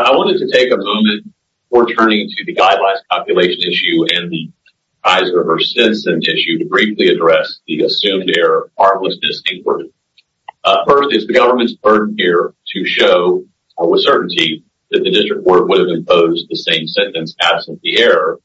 I wanted to take a moment before turning to the Guidelines, Calculations, Issue and the Kaiser versus Stinson Issue to briefly address the assumed error of heartlessness in court. First, it is the government's burden here to show with certainty that the district court would have imposed the same sentence absent the error.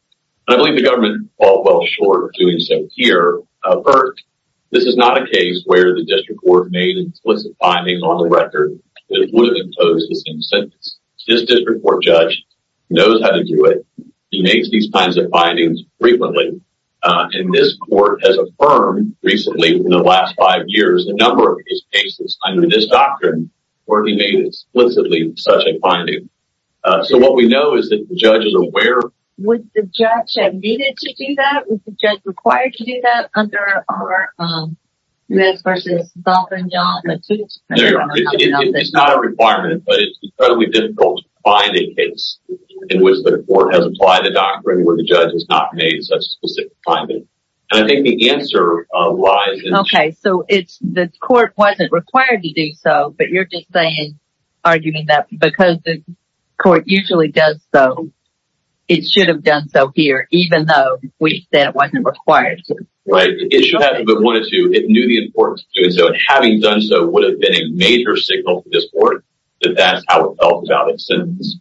I believe the government falls well short of doing so here. First, this is not a case where the district court made explicit findings on the record that it would have imposed the same sentence. This district court judge knows how to do it. He makes these kinds of findings frequently. And this court has affirmed recently in the last five years a number of these cases under this doctrine where he made explicitly such a finding. So what we know is that the judge is aware. Was the judge admitted to do that? Was the judge required to do that? It's not a requirement, but it's incredibly difficult to find a case in which the court has applied the doctrine where the judge has not made such a specific finding. And I think the answer lies in... Okay, so the court wasn't required to do so, but you're just arguing that because the court usually does so, it should have done so here, even though we said it wasn't required to. It should have, but it knew the importance of doing so. And having done so would have been a major signal to this court that that's how it felt about its sentence.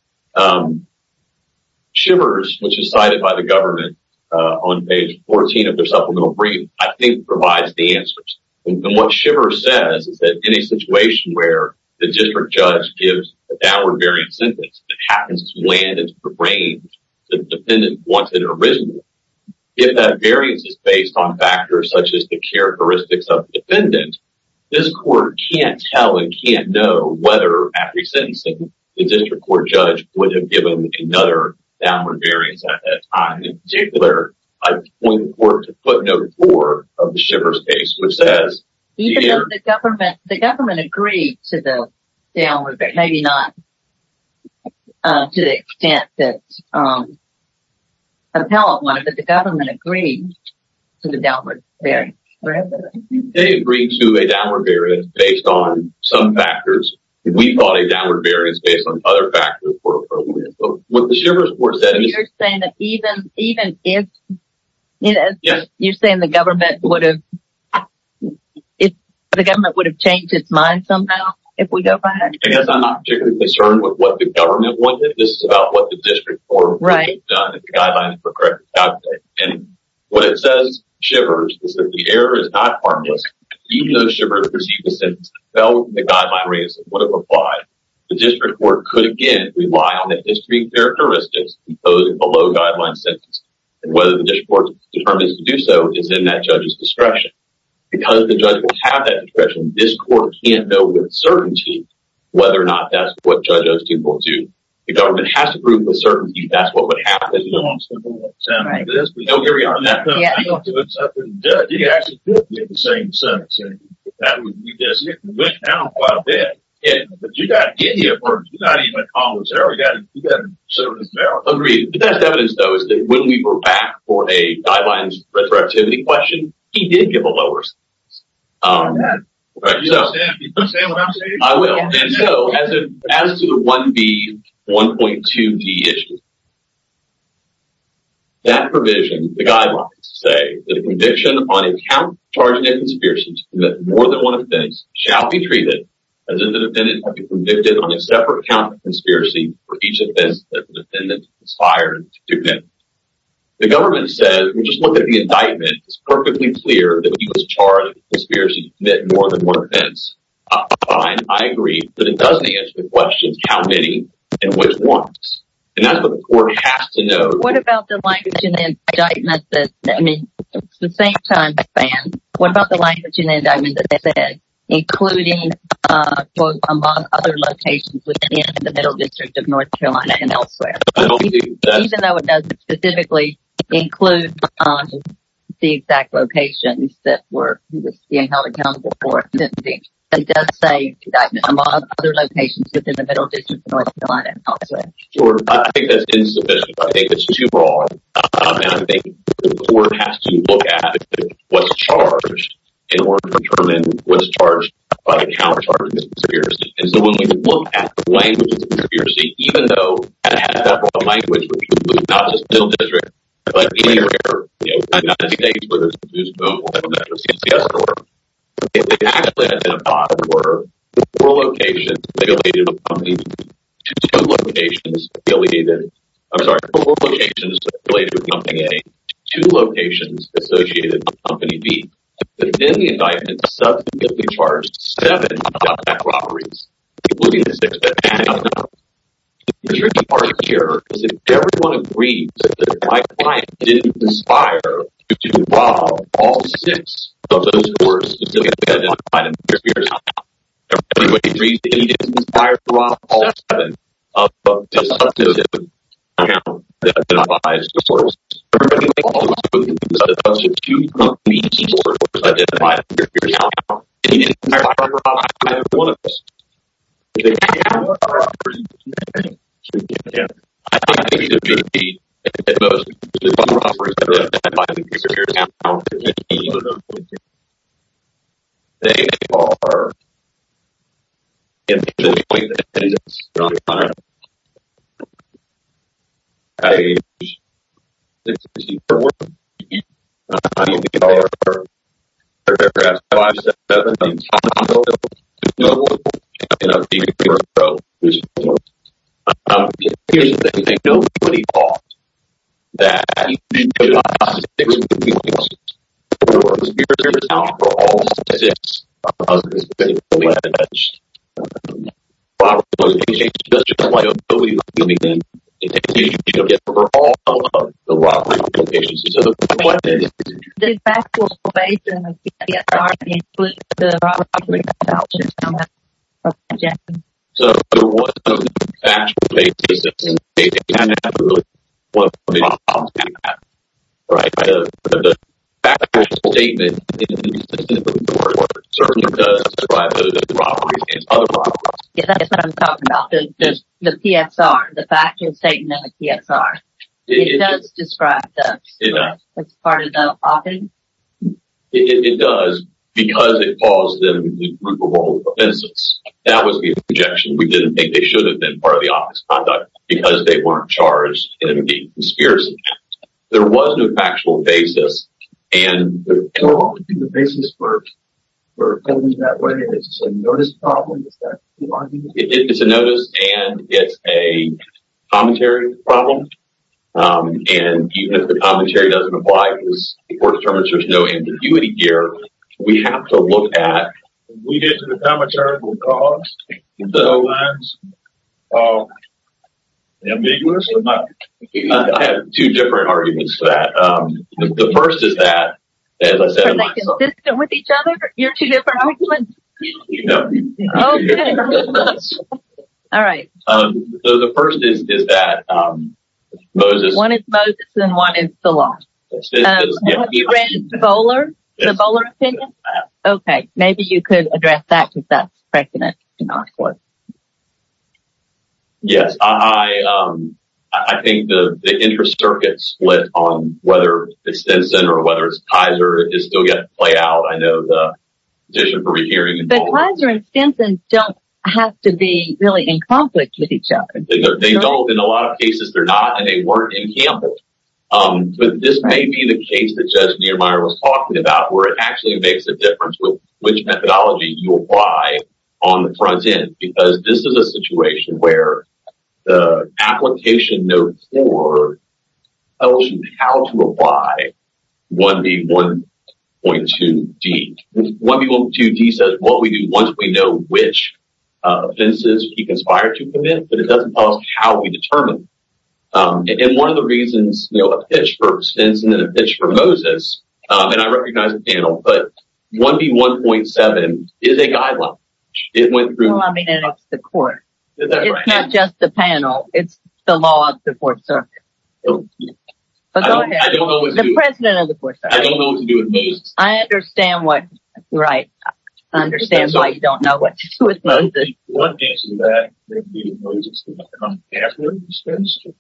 Shivers, which is cited by the government on page 14 of their supplemental brief, I think provides the answers. And what Shivers says is that in a situation where the district judge gives a downward-bearing sentence that happens to land into the range that the defendant wanted originally, if that variance is based on factors such as the characteristics of the defendant, this court can't tell and can't know whether after sentencing the district court judge would have given another downward variance at that time. And in particular, I point the court to footnote 4 of the Shivers case, which says... Even though the government agreed to the downward variance, maybe not to the extent that appellant wanted, but the government agreed to the downward variance. They agreed to a downward variance based on some factors. We thought a downward variance based on other factors were appropriate. So you're saying that even if... You're saying the government would have changed its mind somehow if we go back? I guess I'm not particularly concerned with what the government wanted. This is about what the district court would have done if the guidelines were corrected. And what it says, Shivers, is that the error is not harmless. Even though Shivers received a sentence that fell within the guideline range that would have applied, the district court could again rely on the history and characteristics of those below guideline sentences. And whether the district court is determined to do so is in that judge's discretion. Because the judge will have that discretion, this court can't know with certainty whether or not that's what Judge O242... The government has to prove with certainty that's what would happen. No, Gary, on that point, I don't think it's up to the judge. He actually did get the same sentence. It went down quite a bit. But you've got to get here first. You've got to even comment on this error. You've got to consider this error. Agreed. The best evidence, though, is that when we were back for a guidelines retroactivity question, he did give a lower sentence. You understand what I'm saying? I will. And so, as to the 1B, 1.2D issue, that provision, the guidelines say, the conviction on a count charged in a conspiracy to commit more than one offense shall be treated as if the defendant had been convicted on a separate count of conspiracy for each offense that the defendant aspired to commit. The government says, we just looked at the indictment. It's perfectly clear that he was charged in a conspiracy to commit more than one offense. I agree, but it doesn't answer the question of how many and which ones. And that's what the court has to know. What about the language in the indictment that, I mean, at the same time, what about the language in the indictment that they said, including, quote, among other locations within the middle district of North Carolina and elsewhere? Even though it doesn't specifically include the exact locations that he was being held accountable for, it does say that among other locations within the middle district of North Carolina and elsewhere. Sure, I think that's insufficient. I think that's too broad. And I think the court has to look at what's charged in order to determine what's charged by a counter charge conspiracy. And so, when we look at the language of conspiracy, even though it has that broad language, which includes not just the middle district, but anywhere, you know, we're not going to see things where there's a confused vote, we're not going to see a CS court. If it actually had been a bot where four locations related to Company A, two locations associated with Company B, then the indictment subsequently charged seven top-back robberies, including the sixth at Panhandle North. The tricky part here is that if everyone agrees that my client didn't conspire to rob all six of those stores, it's going to be identified in the conspiracy recount. Everybody agrees that he didn't conspire to rob all seven of the subsequent accounts that identify his stores. Everybody also agrees that a bunch of two Company C stores identify the conspiracy recount, and he didn't conspire to rob either one of those. If they count all the robberies, I think it's a good thing that most of the robberies that are identified in the conspiracy recount don't contain any of those locations. They are individual appointments, not clients. Hi, this is Superworm. I am a developer for Aircraft 517, and I'm a consultant for Superworm, and I've been a viewer of your show for some time. Here's the thing. Nobody thought that you could possibly be responsible for all six of those events. Robbery locations are just a way of viewing them. It's a huge issue for all of the robbery locations. So, my question is, did factual evasion of the SRP include the robbery recounts in some of those projections? So, what factual evasion is, it's a kind of a one-pointed problem, right? The factual statement certainly does describe those robberies against other robberies. Yeah, that's what I'm talking about. The PSR. The factual statement of the PSR. It does describe those. It does. It's part of the plotting? It does, because it caused them the group of all the offenses. That was the objection. We didn't think they should have been part of the obvious conduct, because they weren't charged in the conspiracy count. There was no factual basis. So, the basis for holding it that way is a notice problem? Is that the argument? It's a notice, and it's a commentary problem. And even if the commentary doesn't apply, because the court determines there's no ambiguity here, we have to look at... We get to the commentarical cause. So... Ambiguous? I have two different arguments for that. The first is that, as I said... Are they consistent with each other, your two different arguments? No. Oh, good. All right. So, the first is that Moses... One is Moses, and one is the law. Have you read Bowler? The Bowler opinion? Yes, I have. Okay, maybe you could address that, because that's pregnant. Yes, I think the inter-circuit split on whether it's Stinson or whether it's Kaiser is still yet to play out. I know the petition for rehearing... But Kaiser and Stinson don't have to be really in conflict with each other. They don't. In a lot of cases, they're not, and they weren't in conflict. But this may be the case that Judge Niemeyer was talking about, where it actually makes a difference with which methodology you apply on the front end. Because this is a situation where the application note 4 tells you how to apply 1B1.2D. 1B1.2D says what we do once we know which offenses he conspired to commit, but it doesn't tell us how we determine. And one of the reasons... I have a pitch for Stinson and a pitch for Moses, and I recognize the panel, but 1B1.7 is a guideline. Well, I mean, it's the court. It's not just the panel. It's the law of the 4th Circuit. But go ahead. The president of the 4th Circuit. I don't know what to do with Moses. I understand why you don't know what to do with Moses. One answer to that may be Moses did not come after Stinson.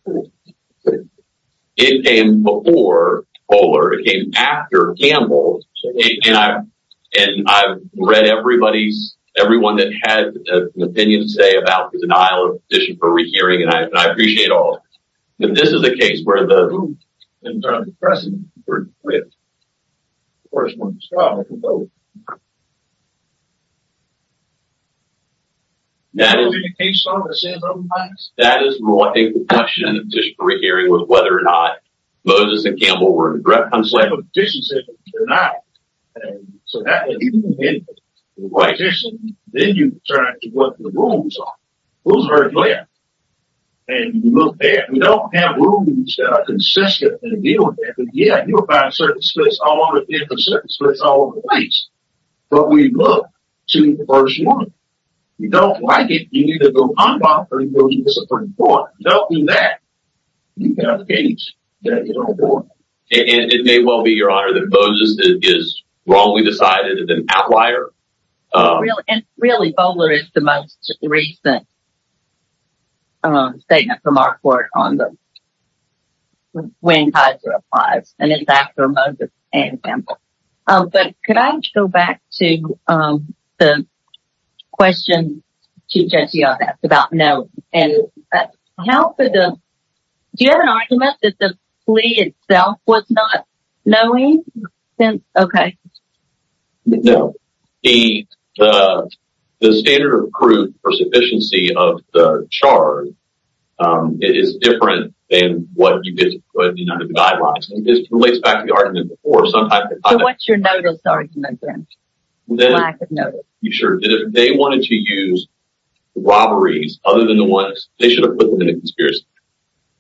It came before Kohler. It came after Gamble. And I've read everyone that had an opinion to say about the denial of petition for rehearing, and I appreciate all of it. But this is a case where the rules in terms of the president were clear. Of course, one of the scholars was over there. That is more a question of petition for rehearing with whether or not Moses and Gamble were directly conspiring. But the petition says it was denied. So that doesn't mean anything. The petition, then you turn to what the rules are. Who's heard it clear? And you look there. We don't have rules that are consistent in dealing with that. But yeah, you'll find certain splits all over the place. But we look to the first one. If you don't like it, you need to go unbothered and go to the Supreme Court. If you don't do that, you've got a case that you don't want. And it may well be, Your Honor, that Moses is wrongly decided as an outlier. Really, Kohler is the most recent. Statement from our court on the when Kaiser applies. And it's after Moses and Gamble. But could I go back to the question Chief Judge Young asked about no. Do you have an argument that the plea itself was not knowing? Okay. No. The standard of proof for sufficiency of the charge is different than what you get under the guidelines. This relates back to the argument before. So what's your notice argument then? Lack of notice. If they wanted to use robberies other than the ones, they should have put them in a conspiracy.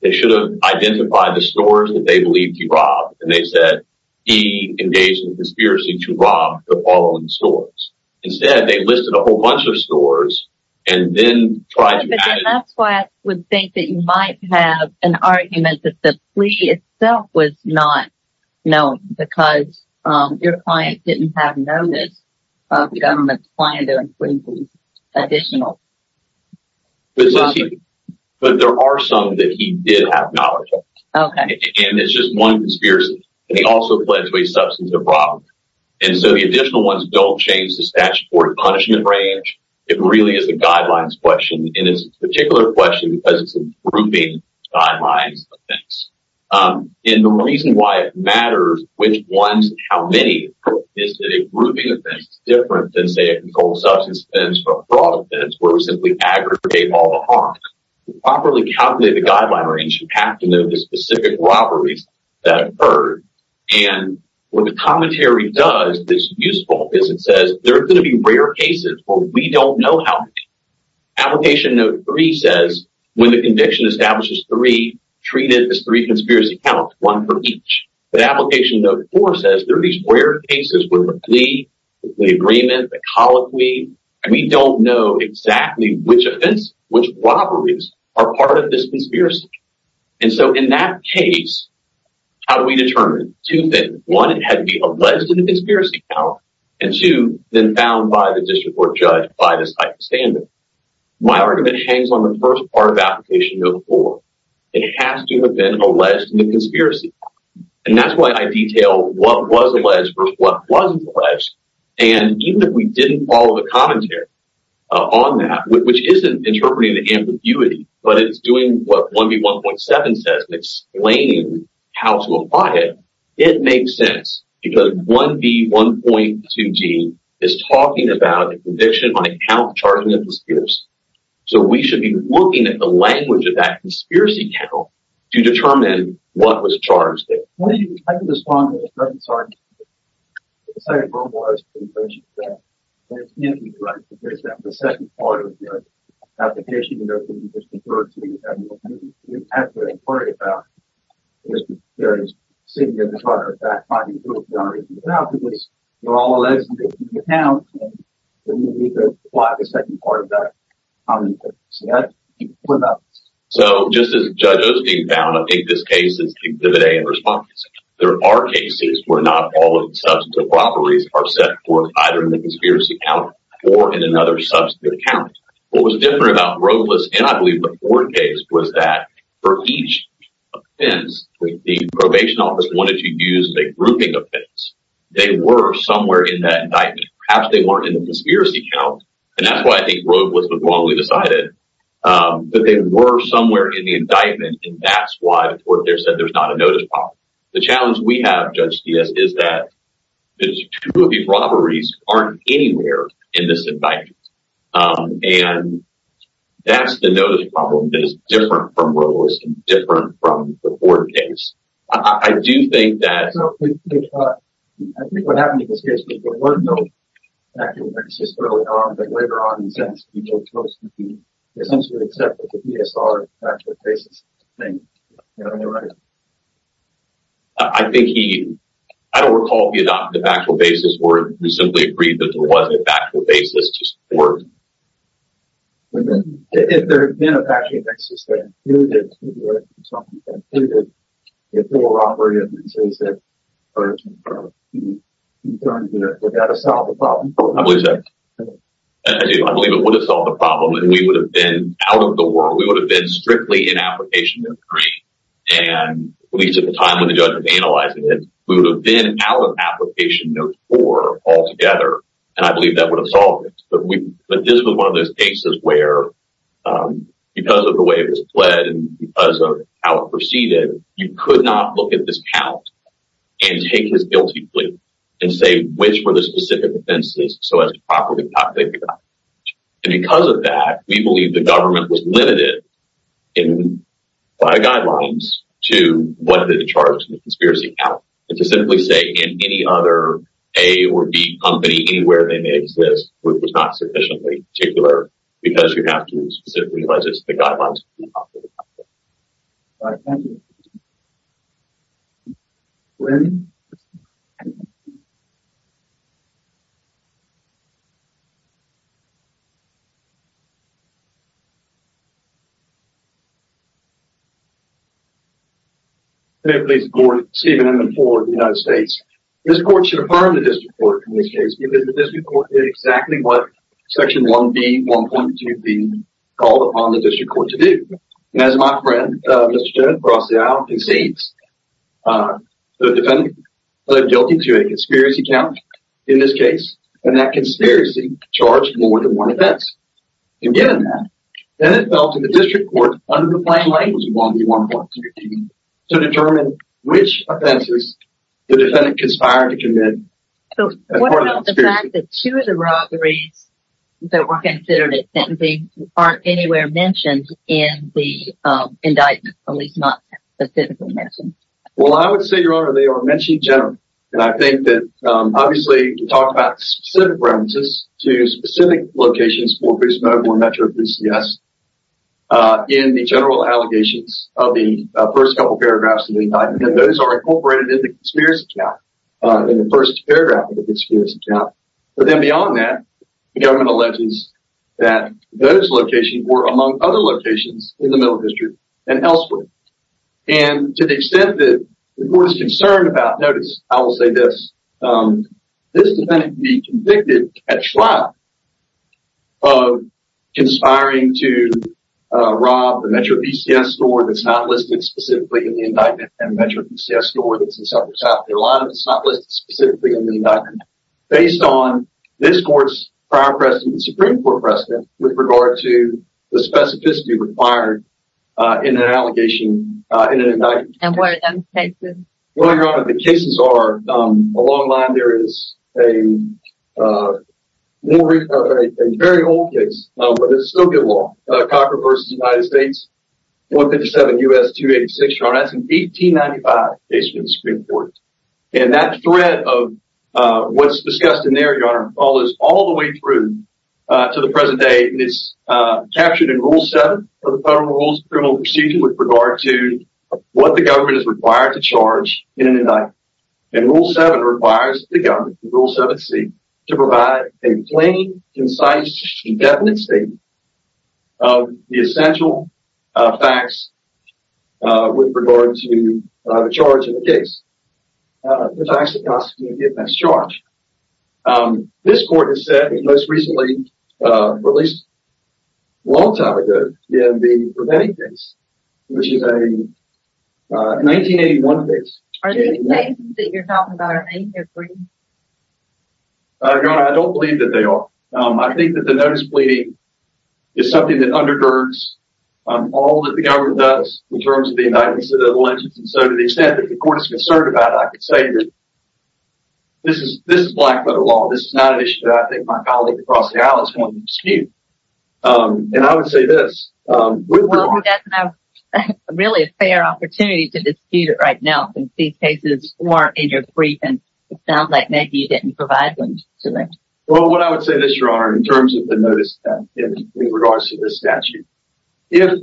They should have identified the stores that they believed he robbed. And they said he engaged in a conspiracy to rob the following stores. Instead, they listed a whole bunch of stores and then tried to add it. That's why I would think that you might have an argument that the plea itself was not known. Because your client didn't have notice of the government's plan to include these additional. But there are some that he did have knowledge of. Okay. And it's just one conspiracy. And he also pledged to a substantive fraud. And so the additional ones don't change the statute for the punishment range. It really is a guidelines question. And it's a particular question because it's a grouping guidelines offense. And the reason why it matters which ones and how many is that a grouping offense is different than, say, a controlled substance offense or a fraud offense where we simply aggregate all the harm. To properly calculate the guideline range, you have to know the specific robberies that occurred. And what the commentary does that's useful is it says there are going to be rare cases where we don't know how many. Application Note 3 says when the conviction establishes three, treat it as three conspiracy counts, one for each. But Application Note 4 says there are these rare cases where the plea, the plea agreement, the colloquy, and we don't know exactly which offense, which robberies are part of this conspiracy. And so in that case, how do we determine? Two things. One, it had to be alleged in the conspiracy count. And, two, then found by the district court judge by the stipend standard. My argument hangs on the first part of Application Note 4. It has to have been alleged in the conspiracy count. And that's why I detail what was alleged versus what wasn't alleged. And even if we didn't follow the commentary on that, which isn't interpreting the ambiguity, but it's doing what 1B1.7 says and explaining how to apply it, it makes sense. Because 1B1.2d is talking about a conviction by a count charged with a conspiracy. So we should be looking at the language of that conspiracy count to determine what was charged. What do you expect to respond to the second part? The second part was in relation to that. And it's interesting, right, because that's the second part of the application note that you just referred to. You have to inquire about it. There is sitting in the front or back finding proof. You don't have to do this. They're all alleged in the conspiracy count. And then you need to apply the second part of that commentary. So that's what that is. So just as Judge Osteen found, I think this case is exhibit A in response. There are cases where not all of the substantive properties are set forth either in the conspiracy count or in another substantive count. What was different about Roethlis and I believe the Ford case was that for each offense, the probation office wanted to use a grouping offense. They were somewhere in that indictment. Perhaps they weren't in the conspiracy count, and that's why I think Roethlis was wrongly decided. But they were somewhere in the indictment, and that's why the court there said there's not a notice problem. The challenge we have, Judge Sties, is that the two of these robberies aren't anywhere in this indictment. And that's the notice problem that is different from Roethlis and different from the Ford case. I do think that— I think what happened in this case was there were no factual basis early on. But later on, in a sense, people chose to essentially accept that the DSR factual basis thing. You know what I mean, right? I think he—I don't recall if he adopted a factual basis or if he simply agreed that there wasn't a factual basis to support— If there had been a factual basis that included— I believe so. I believe it would have solved the problem, and we would have been out of the world. We would have been strictly in application no. 3. And at least at the time when the judge was analyzing it, we would have been out of application no. 4 altogether. And I believe that would have solved it. But this was one of those cases where, because of the way it was played and because of how it proceeded, you could not look at this count and take his guilty plea and say which were the specific offenses so as to properly topic that. And because of that, we believe the government was limited by guidelines to what the charges of the conspiracy count. And to simply say in any other A or B company, anywhere they may exist, was not sufficiently particular because you have to specifically realize it's the guidelines. All right. Thank you. May it please the Court, Stephen M. Ford of the United States. This Court should affirm the district court in this case because the district court did exactly what Section 1B, 1.2B, called upon the district court to do. And as my friend, Mr. Jennifer Osteau, concedes, the defendant pled guilty to a conspiracy count in this case, and that conspiracy charged more than one offense. And given that, then it fell to the district court under the plain language of 1B, 1.2B, to determine which offenses the defendant conspired to commit. So what about the fact that two of the robberies that were considered as sentencing aren't anywhere mentioned in the indictment, at least not specifically mentioned? Well, I would say, Your Honor, they are mentioned generally. And I think that, obviously, you talk about specific references to specific locations, in the general allegations of the first couple paragraphs of the indictment. And those are incorporated in the conspiracy count, in the first paragraph of the conspiracy count. But then beyond that, the government alleges that those locations were among other locations in the Middle District and elsewhere. And to the extent that the Court is concerned about, notice, I will say this, this defendant can be convicted, catch fly, of conspiring to rob the MetroPCS store that's not listed specifically in the indictment, and the MetroPCS store that's in South Carolina that's not listed specifically in the indictment, based on this Court's prior precedent, the Supreme Court precedent, with regard to the specificity required in an allegation, in an indictment. And what are those cases? Well, Your Honor, the cases are, along the line, there is a very old case, but it's still good law, Cochran v. United States, 157 U.S. 286, Your Honor, that's an 1895 case from the Supreme Court. And that threat of what's discussed in there, Your Honor, follows all the way through to the present day. And it's captured in Rule 7 of the Federal Rules of Criminal Procedure with regard to what the government is required to charge in an indictment. And Rule 7 requires the government, Rule 7C, to provide a plain, concise, indefinite statement of the essential facts with regard to the charge of the case. The facts that constitute the offense charged. This Court has said, most recently, at least a long time ago, in the Preventing Case, which is a 1981 case. Are these cases that you're talking about in 1981? Your Honor, I don't believe that they are. I think that the notice pleading is something that undergirds all that the government does in terms of the indictments and the allegations. And so to the extent that the Court is concerned about it, I can say that this is black-letter law. This is not an issue that I think my colleague across the aisle is going to dispute. And I would say this. Well, who doesn't have really a fair opportunity to dispute it right now since these cases weren't in your brief. And it sounds like maybe you didn't provide them to them. Well, what I would say this, Your Honor, in terms of the notice in regards to this statute. If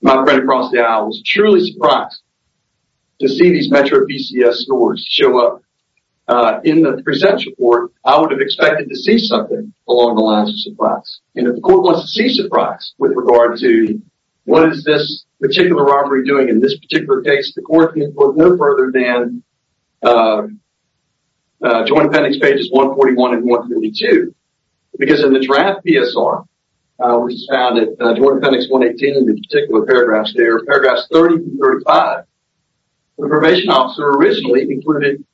my friend across the aisle was truly surprised to see these Metro PCS scores show up in the present report, I would have expected to see something along the lines of surprise. And if the Court wants to see surprise with regard to what is this particular robbery doing in this particular case, the Court can look no further than Joint Appendix Pages 141 and 152. Because in the draft PSR, which is found in Joint Appendix 118 in the particular paragraphs there, paragraphs 30 through 35, the probation officer originally included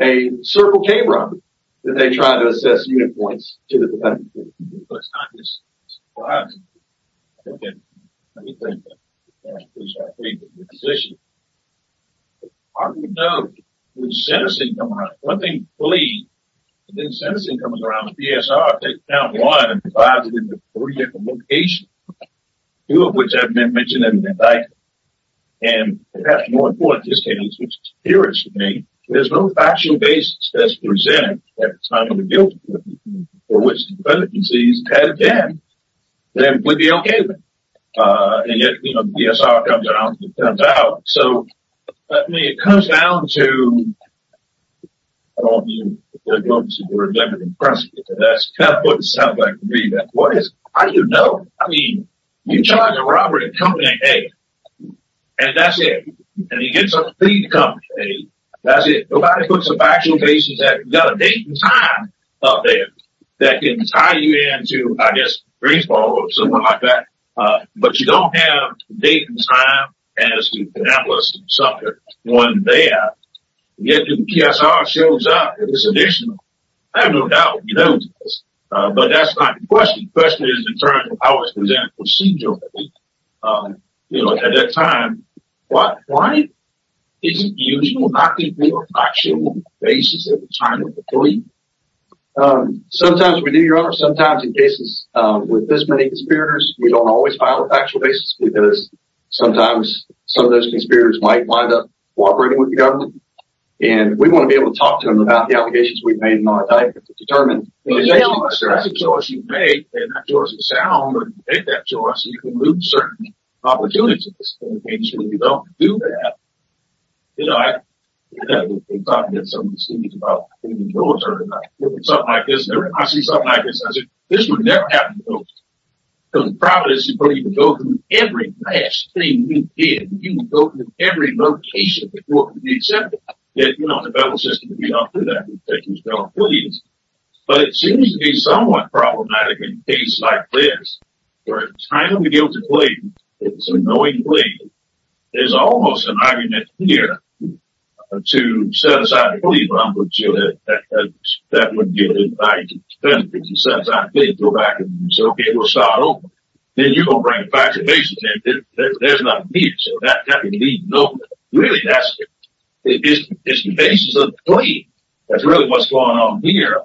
a circle K robbery that they tried to assess unit points to the defendant. Well, it's not just surprise. Okay. Let me think about it. Because I think the position, I don't know. When sentencing comes around. One thing to believe is that when sentencing comes around, the PSR takes down one and divides it into three different locations, two of which have been mentioned in the indictment. And perhaps more important, this case, which is curious to me, there's no factual basis that's presented at the time of the guilty plea, for which the defendant concedes had it been, then we'd be okay with it. And yet, you know, the PSR comes around and it turns out. So, I mean, it comes down to, I don't know if you're going to remember this, but that's kind of what it sounds like to me. What is it? How do you know? I mean, you charge a robbery in company A, and that's it. And you get something in company B, that's it. Nobody puts a factual basis. You've got a date and time up there that can tie you in to, I guess, Greensboro or something like that. But you don't have a date and time as to Pennapolis and Suffolk. It wasn't there. Yet, the PSR shows up. It was additional. I have no doubt. We know this. But that's not the question. The question is in terms of how it's presented procedurally, you know, at that time. Why is it usual not to give a factual basis at the time of the plea? Sometimes we do, Your Honor. Sometimes in cases with this many conspirators, we don't always file a factual basis because sometimes some of those conspirators might wind up cooperating with the government. And we want to be able to talk to them about the allegations we've made in our indictment to determine. That's a choice you make, and that choice is sound. But if you make that choice, you can lose certain opportunities. And if you don't do that, you know, we're talking to some of the students about being in the military. Something like this. I see something like this. I say, this would never happen to folks. Because the problem is you probably would go through every last thing you did. You would go through every location that you were to be accepted. You know, the federal system would be up to that. But it seems to be somewhat problematic in cases like this, where it's time to be able to plead. It's a knowing plea. There's almost an argument here to set aside the plea, but I'm going to tell you that that wouldn't be an indictment. You set aside a plea and go back and say, okay, we'll start over. Then you're going to bring a factual basis in. There's not a need. So that would be no good. Really, it's the basis of the plea. That's really what's going on here.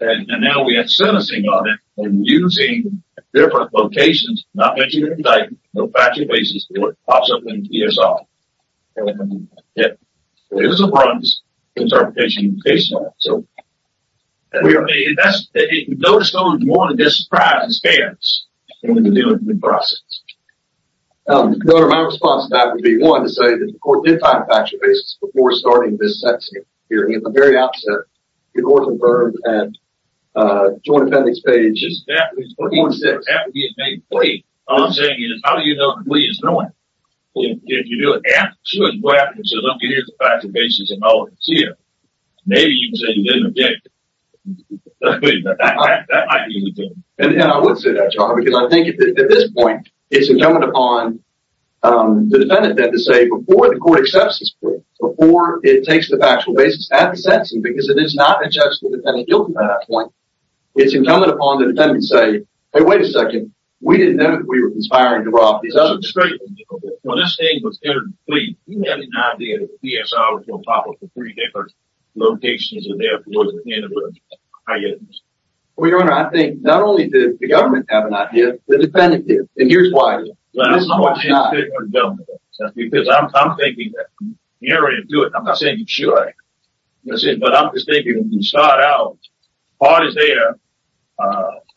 And now we have sentencing on it and using different locations, not mentioning indictments, no factual basis, and it pops up in a plea or something. It was a bronze interpretation in case law. You notice someone's more than just surprised and scared, when you're dealing with the process. Governor, my response to that would be, one, to say that the court did find a factual basis before starting this sentencing hearing. At the very outset, the court confirmed and the Joint Appendix page. One point six. And I would say that, John, because I think at this point it's incumbent upon the defendant to say before the court accepts this plea, before it takes the factual basis at the sentencing, because it is not a judgment of the defendant guilty by that point. It's incumbent upon the defendant to say, hey, wait a second, we didn't know that we were conspiring to rob these others. Well, Your Honor, I think not only did the government have an idea, the defendant did. And here's why. Because I'm thinking that. You're ready to do it. I'm not saying you should. But I'm just thinking, when you start out, the part is there.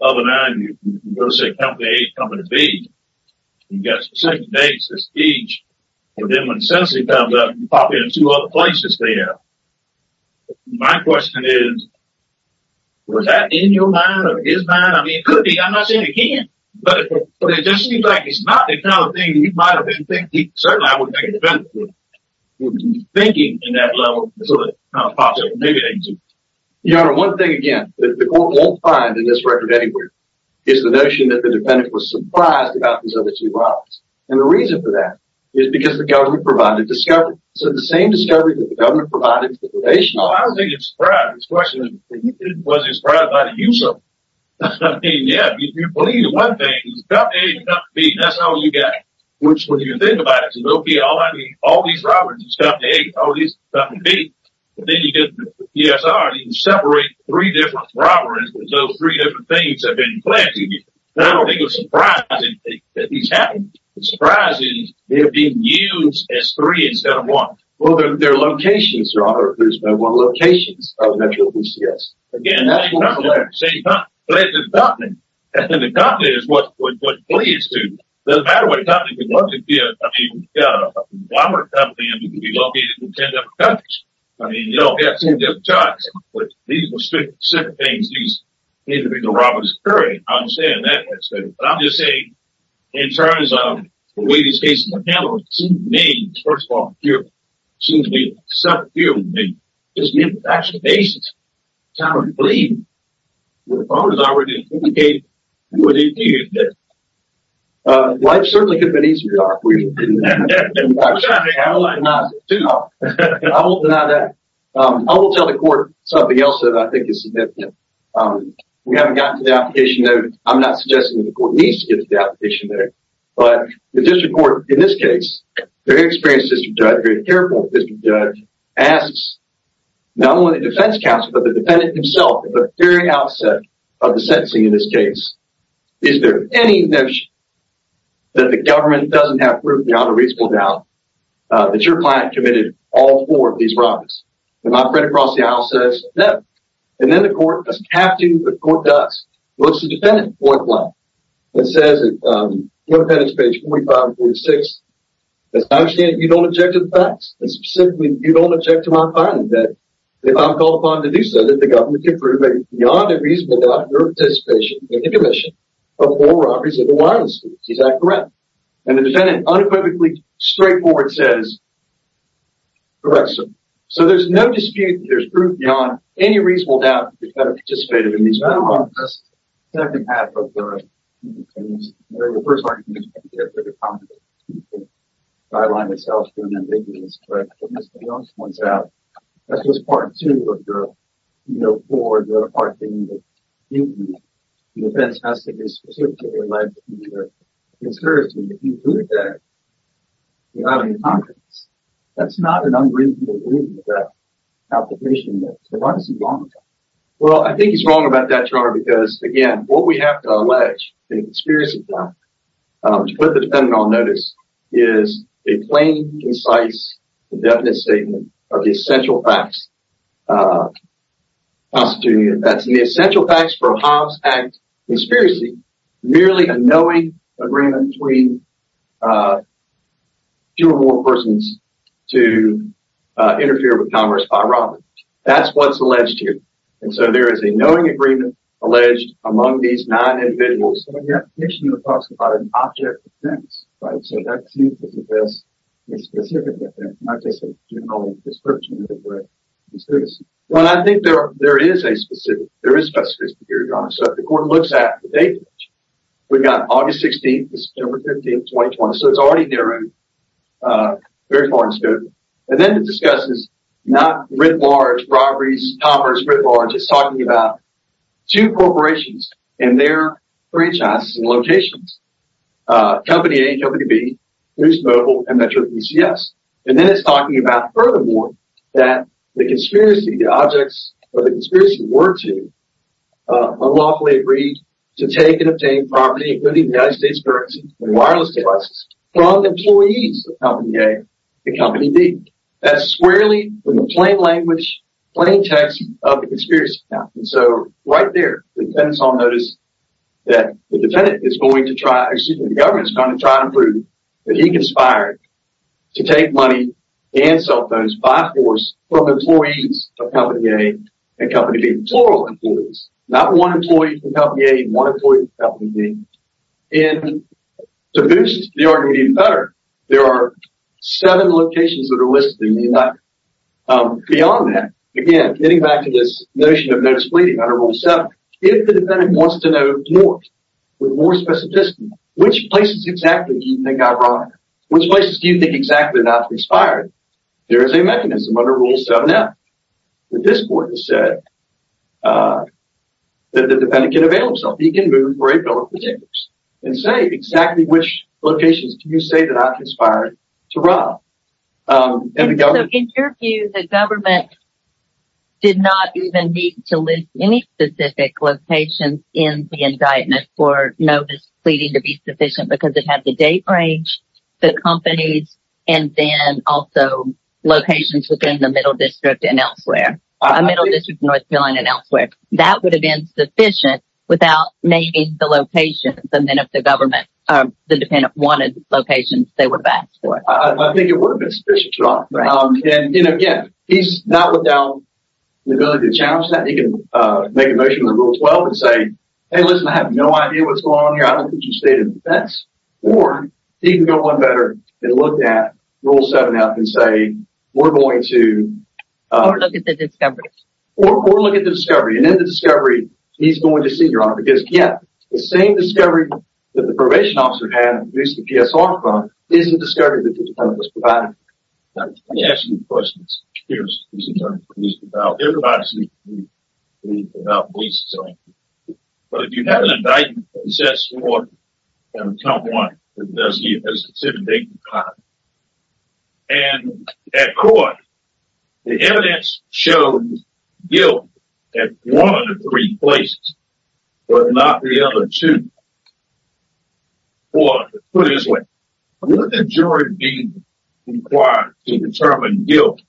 Other than that, you can go say company A, company B. You've got specific dates for speech. But then when the sentencing comes up, you pop in two other places there. My question is, was that in your mind or his mind? I mean, it could be. I'm not saying it can't. But it just seems like it's not the kind of thing that you might have been thinking. Certainly I wouldn't make a defense for it. So it kind of pops up. Your Honor, one thing again, that the court won't find in this record anywhere, is the notion that the defendant was surprised about these other two robbers. And the reason for that is because the government provided discovery. So the same discovery that the government provided information on. Well, I don't think it's described. The question is, was it described by the use of them? I mean, yeah, you believe in one thing. It was company A and company B. That's all you got. Which, when you think about it, all these robbers in company A and all these robbers in company B. Then you get the PSR. You separate three different robberies. Those three different things have been planted. And I don't think it was surprising that these happened. It's surprising they're being used as three instead of one. Well, their locations, Your Honor. There's no one locations of Metro PCS. Again, same company. Same company. But it's the company. And then the company is what leads to it. It doesn't matter what company. I mean, if you've got a robber in company M, you can be located in 10 different countries. I mean, you don't get 10 different jobs. But these were specific things. These individual robberies occurring. I understand that. But I'm just saying, in terms of the way these cases are handled, it seems to me, first of all, it seems to me, it's a separate field to me. It's the infrastructure basis. It's how we believe. The problem is already implicated. Life certainly could have been easier, Your Honor. I will tell the court something else that I think is significant. We haven't gotten to the application note. I'm not suggesting the court needs to get to the application note. But the district court, in this case, very experienced district judge, very careful district judge, asks not only the defense counsel, but the defendant himself, at the very outset of the sentencing in this case, is there any notion that the government doesn't have proof, Your Honor, reasonable doubt, that your client committed all four of these robberies? And my friend across the aisle says, no. And then the court doesn't have to, but the court does. Looks at the defendant, point blank, and says, in the defendant's page 45 and 46, I understand you don't object to the facts. And specifically, you don't object to my finding that if I'm called upon to do so, then the government can prove that it's beyond a reasonable doubt your participation in the commission of all robberies of the Wyandotte streets. Is that correct? And the defendant, unequivocally, straightforward, says, correct, sir. So there's no dispute that there's proof beyond any reasonable doubt that the defendant participated in these robberies. I don't know if that's exactly half of the case. In the first argument, I think it's a bit complicated. The guideline itself is pretty ambiguous, correct? But Mr. Young points out, that's just part two of your, you know, part of your argument. The defense has to be specifically led to your concerns, and if you do that, you're out of your confidence. That's not an unreasonable reason for that application. So why is he wrong about that? Well, I think he's wrong about that, Your Honor, because, again, what we have to allege, the conspiracy theory, to put the defendant on notice, is a plain, concise, indefinite statement of the essential facts constituted. That's the essential facts for a Harms Act conspiracy, merely a knowing agreement between two or more persons to interfere with Congress by robbery. That's what's alleged here. And so there is a knowing agreement alleged among these nine individuals. In your application, it talks about an object defense, right? So that seems to suggest a specific defense, not just a general description of it, but conspiracy. Well, I think there is a specific, there is a specific conspiracy theory, Your Honor. So if the court looks at the date page, we've got August 16th to September 15th, 2020. So it's already narrowed very far in scope. And then it discusses not writ large, robberies, commerce, writ large. It's talking about two corporations and their franchises and locations. Company A and Company B, Moose Mobile and Metro PCS. And then it's talking about furthermore that the conspiracy, the objects of the conspiracy were to unlawfully agreed to take and obtain property, including United States currency and wireless devices, from employees of Company A and Company B. That's squarely, in the plain language, plain text of the conspiracy account. And so right there, the defendant saw notice that the defendant is going to try, excuse me, the government is going to try to prove that he conspired to take money and cell phones by force from employees of Company A and Company B. Plural employees. Not one employee from Company A and one employee from Company B. And to boost the argument even better, there are seven locations that are listed in the indictment. Beyond that, again, getting back to this notion of note-splitting under Rule 7, if the defendant wants to know more, with more specificity, which places exactly do you think are wrong? Which places do you think exactly are not conspired? There is a mechanism under Rule 7F that this court has said that the defendant can avail himself. He can move for a bill of particulars and say exactly which locations do you say are not conspired to rob. And the government... So, in your view, the government did not even need to list any specific locations in the indictment for notice pleading to be sufficient because it had the date range, the companies, and then also locations within the Middle District and elsewhere. Middle District, North Carolina, and elsewhere. That would have been sufficient without naming the locations and then if the government, the defendant wanted locations, they would have asked for it. I think it would have been sufficient. And, again, he's not without the ability to challenge that. He can make a motion under Rule 12 and say, hey, listen, I have no idea what's going on here. Or, he can go one better and look at Rule 7 up and say, we're going to... Or look at the discovery. Or look at the discovery and in the discovery, he's going to see, Your Honor, because, yeah, the same discovery that the probation officer had when he used the PSR fund isn't the discovery that the defendant was provided. Let me ask you a few questions. Here's a question I'm curious about. Everybody's speaking to me about policing. But if you have an indictment that possesses more than account one, does it give a specific date and time? And, at court, the evidence showed guilt at one of the three places, but not the other two. Or, put it this way, would the jury be required to determine guilt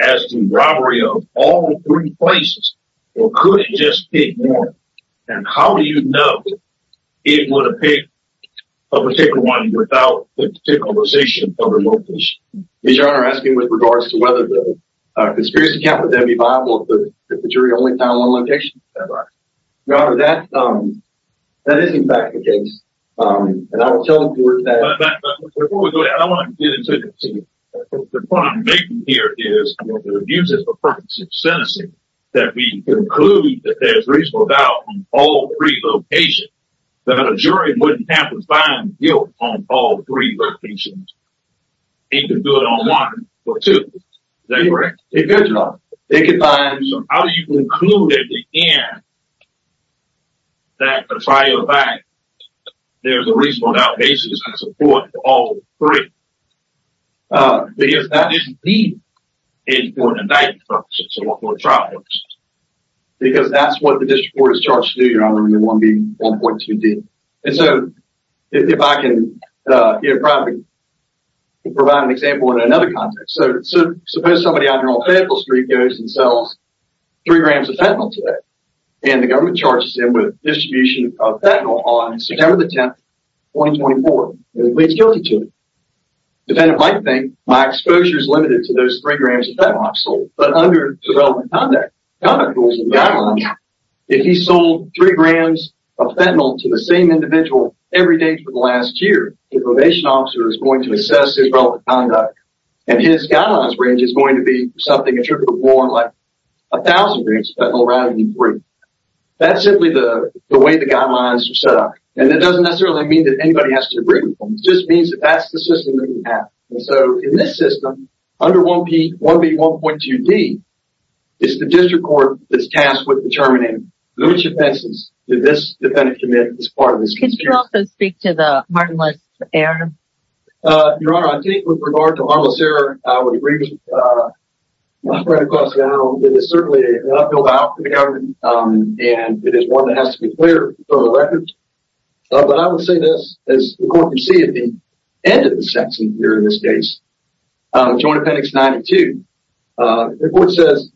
as to robbery of all three places, or could it just be one? And how do you know it would've picked a particular one without the particularization of the location? Your Honor, I'm asking with regards to whether the conspiracy can't be viable if the jury only found one location. That's right. Your Honor, that is, in fact, the case. And I will tell the court that... The point I'm making here is that the abuse is for purposes of sentencing, that we conclude that there's reasonable doubt on all three locations, that a jury wouldn't have to find guilt on all three locations. They can do it on one or two. Is that correct? They could, Your Honor. They could find... How do you conclude, at the end, that, to try your best, there's a reasonable doubt basis and support for all three? Because that is needed in court indictment purposes or for trial purposes. Because that's what the district court is charged to do, Your Honor, in the 1B1.2D. And so, if I can, provide an example in another context. So, suppose somebody out here on Fayetteville Street goes and sells three grams of fentanyl today. And the government charges them with distribution of fentanyl on September the 10th, 2024. And they plead guilty to it. Defendant might think, my exposure is limited to those three grams of fentanyl I've sold. But under development conduct, conduct rules and guidelines, if he sold three grams of fentanyl to the same individual every day for the last year, the probation officer is going to assess his relevant conduct. And his guidelines range is going to be something attributable more like a thousand grams of fentanyl rather than three. That's simply the way the guidelines are set up. And that doesn't necessarily mean that anybody has to agree with them. It just means that that's the system that we have. And so, in this system, under 1B1.2D, it's the district court that's tasked with determining which offenses did this defendant commit as part of this procedure. Can you also speak to the harmless error? Your Honor, I think with regard to harmless error, I would agree with my friend, Clausey Arnold. It is certainly an uphill battle for the government. And it is one that has to be clear for the record. But I would say this, as the court can see at the end of the section here in this case, Joint Appendix 92, the court says,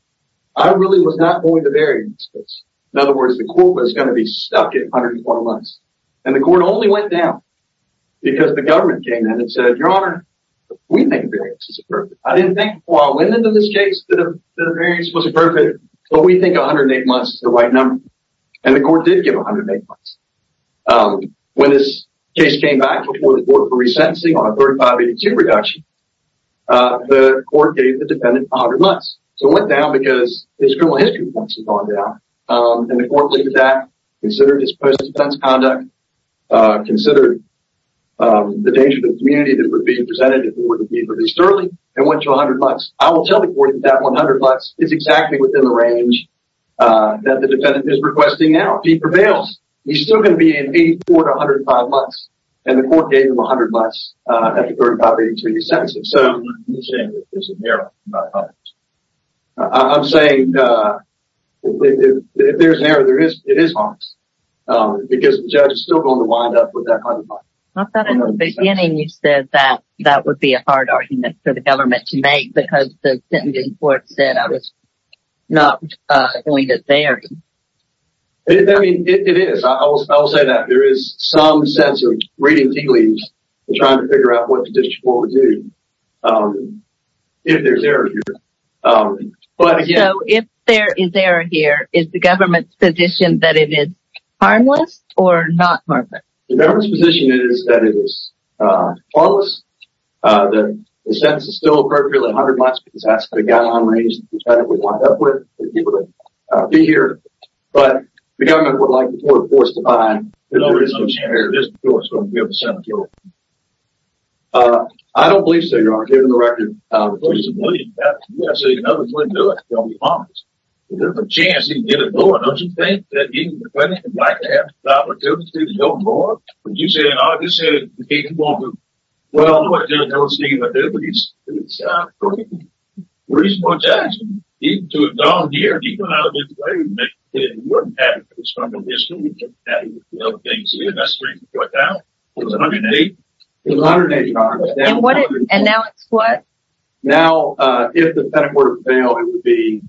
I really was not going to vary this case. In other words, the court was going to be stuck at 121 months. And the court only went down because the government came in and said, Your Honor, we think variance is appropriate. I didn't think before I went into this case that a variance was appropriate, but we think 108 months is the right number. And the court did give 108 months. When this case came back before the court for resentencing on a 3582 reduction, the court gave the defendant 100 months. So it went down because his criminal history points had gone down. And the court believed that, considered his post-defense conduct, considered the danger to the community that would be presented if he were to be released early, and went to 100 months. I will tell the court that that 100 months is exactly within the range that the defendant is requesting now. He prevails. He's still going to be in 84 to 105 months. And the court gave him 100 months at the 3582 resentence. So I'm not saying that there's an error in that 100 months. I'm saying if there's an error, it is honest. Because the judge is still going to wind up with that 100 months. I thought in the beginning you said that that would be a hard argument for the government to make because the sentencing court said I was not doing it there. I mean, it is. I will say that there is some sense of reading tea leaves and trying to figure out what the district court would do if there's error here. So if there is error here, is the government's position that it is harmless or not harmless? The government's position is that it is harmless. The sentence is still appropriate at 100 months because that's the guideline range that the defendant would wind up with if he were to be here. But the government would like the court of course to find that there is some chance that this court is going to be able to sentence him. I don't believe so, Your Honor. Given the record, the court is a million pounds. You've got to say another $20 million that's going to be harmless. There's a chance he can get it going. Don't you think that even if the defendant would like to have the opportunity to go more, would you say in August that he can go more? Well, I don't want to tell you what to do, but it's a reasonable attachment even to have gone here and gone out of his way to make sure that he wasn't having to struggle with this and he wasn't having to deal with other things in the industry right now. Was it $180? It was $180. And now it's what? Now, if the petticoat failed, it would be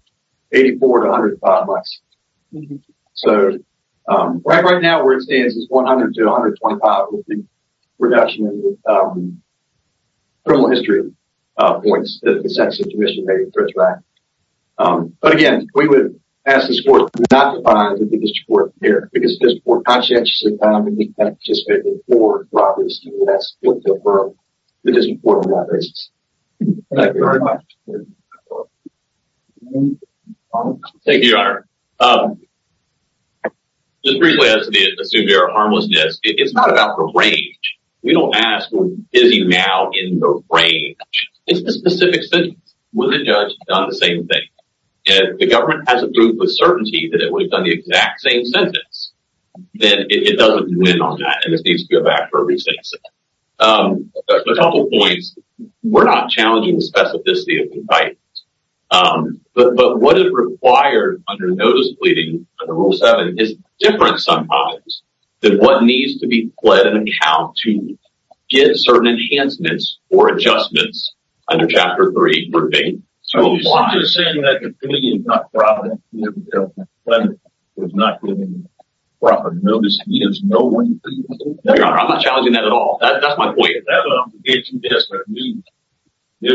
$84 to $105 less. right now, where it stands is $100 to $125 would be a reduction in the criminal history points that the statute commission made in the Threats Act. But again, we would ask this court not to find the biggest court here, because if this court conscientiously found that he participated in four robberies, we would ask him to defer the district court on that basis. Thank you very much. Thank you, Your Honor. Just briefly, as to the severe harmlessness, it's not about the range. We don't ask who is he now in the range. It's the specific sentence. When the judge has done the same thing and the government has a proof of certainty that we've done the exact same sentence, then it doesn't win on that and it needs to go back for a re-sentencing. A couple points. We're not challenging the specificity of the indictment. But what is required under notice pleading under Rule 7 is different sometimes than what needs to be pled in account to get certain enhancements or adjustments under Chapter 3 for being too wide. You're saying that the plea is not given proper notice. He has no way to do that. No, Your Honor. I'm not challenging that at all. That's my point. That's what I'm saying.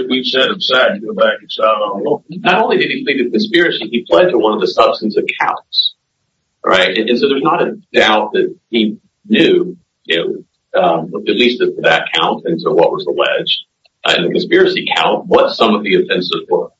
We've said it's sad to go back and start over. Not only did he plead a conspiracy, he pled to one of the substance accounts. Right? And so there's not a doubt that he knew at least that count into what was alleged in the conspiracy account what some of the offenses were.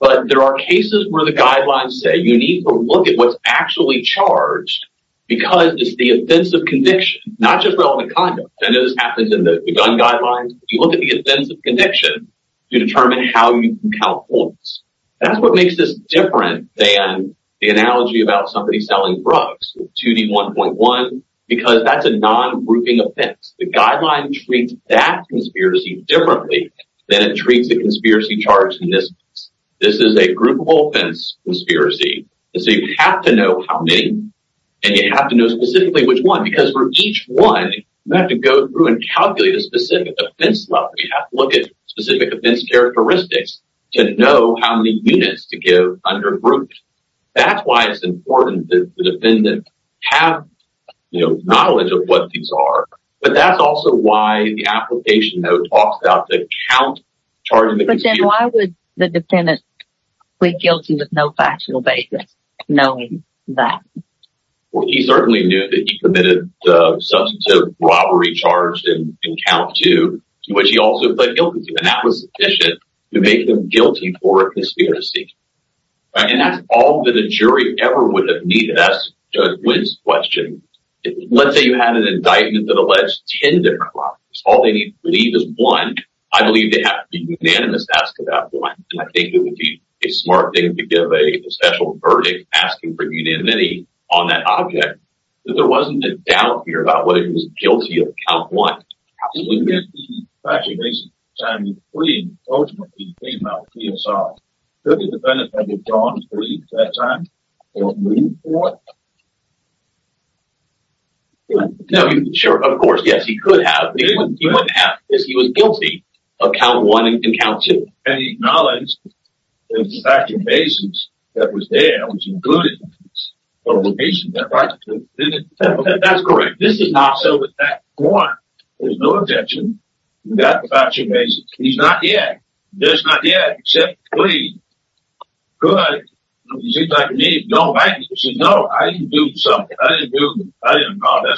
But there are cases where the guidelines say you need to look at what's actually charged because it's the offense of conviction not just relevant conduct. I know this happens in the gun guidelines. You look at the offense of conviction to determine how you can count points. That's what makes this different than the analogy about somebody selling drugs with 2D1.1 because that's a non-grouping offense. The guideline treats that conspiracy differently than it treats the conspiracy charged in this case. This is a groupable offense conspiracy. So you have to know how many and you have to know specifically which one because for each one you have to go through and calculate a specific offense level. You have to look at specific offense characteristics to know how many units to give under grouped. That's why it's important that the defendant have knowledge of what these are but that's also why the application though talks about the count charged in the But then why would the defendant plead guilty with no factual basis knowing that? Well he certainly knew that he committed the substantive robbery charged in count 2 which he also pled guilty to and that was sufficient to make him guilty for a conspiracy. And that's all that a jury ever would have needed. That's Judge Wynn's question. Let's say you had an indictment that alleged 10 different robberies. All they need to believe is 1. I believe they have to be unanimous to ask about 1. And I think it would be a smart thing to give a special verdict asking for unanimity on that object. But there wasn't a doubt here about whether he was guilty of count 1. Absolutely not. The factual basis of the time he plead ultimately came out PSI. Could the defendant have withdrawn plead at that time? No. Of course yes he could have but he wouldn't have because he was guilty of count 1 and count 2. And he acknowledged that the factual basis that was there was included in his publication. That's correct. This is not so with fact 1. There's no objection. We've got the factual basis. He's not the act. There's not the act except the fact. So he's not the act. I'm not guilty of count 1. He's not count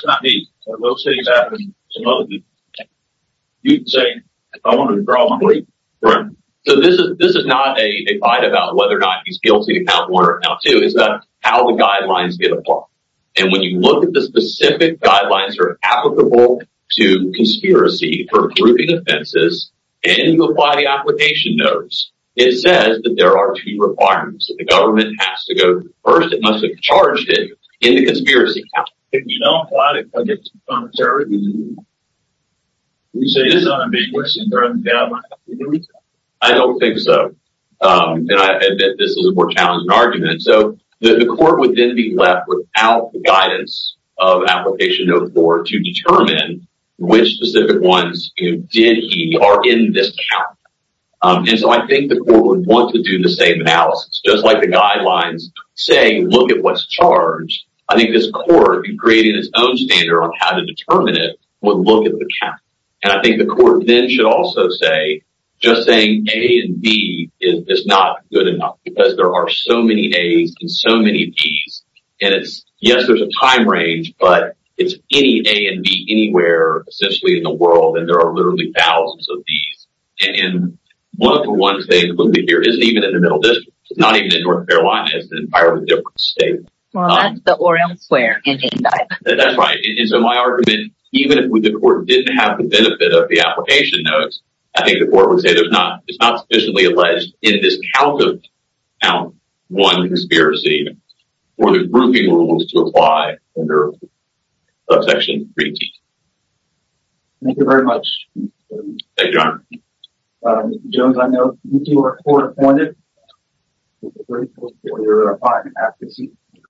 2. So this is not a fight about whether or not he's guilty of count 1 or count 2. It's about how the guidelines get applied. And when you look at the specific guidelines that are applicable to conspiracy for grouping offenses and you apply the application notes, it says that there are two requirements that the has to go through. First, it must have him in the conspiracy to count. If you don't apply it, you say it's unambiguous. I don't think so. This is a more challenging argument. The court would then be left without the guidance of application note 4 to determine which specific rules would look at the count. The court should say A and B is not good enough. There are so many A's and so many B's. Yes, there's a time range, it's any A and B is not sufficient. It's not one conspiracy for the grouping rules to apply. Thank you very much. Thank you, Mr. I know you are court appointed. I'm grateful for your time. Thank you.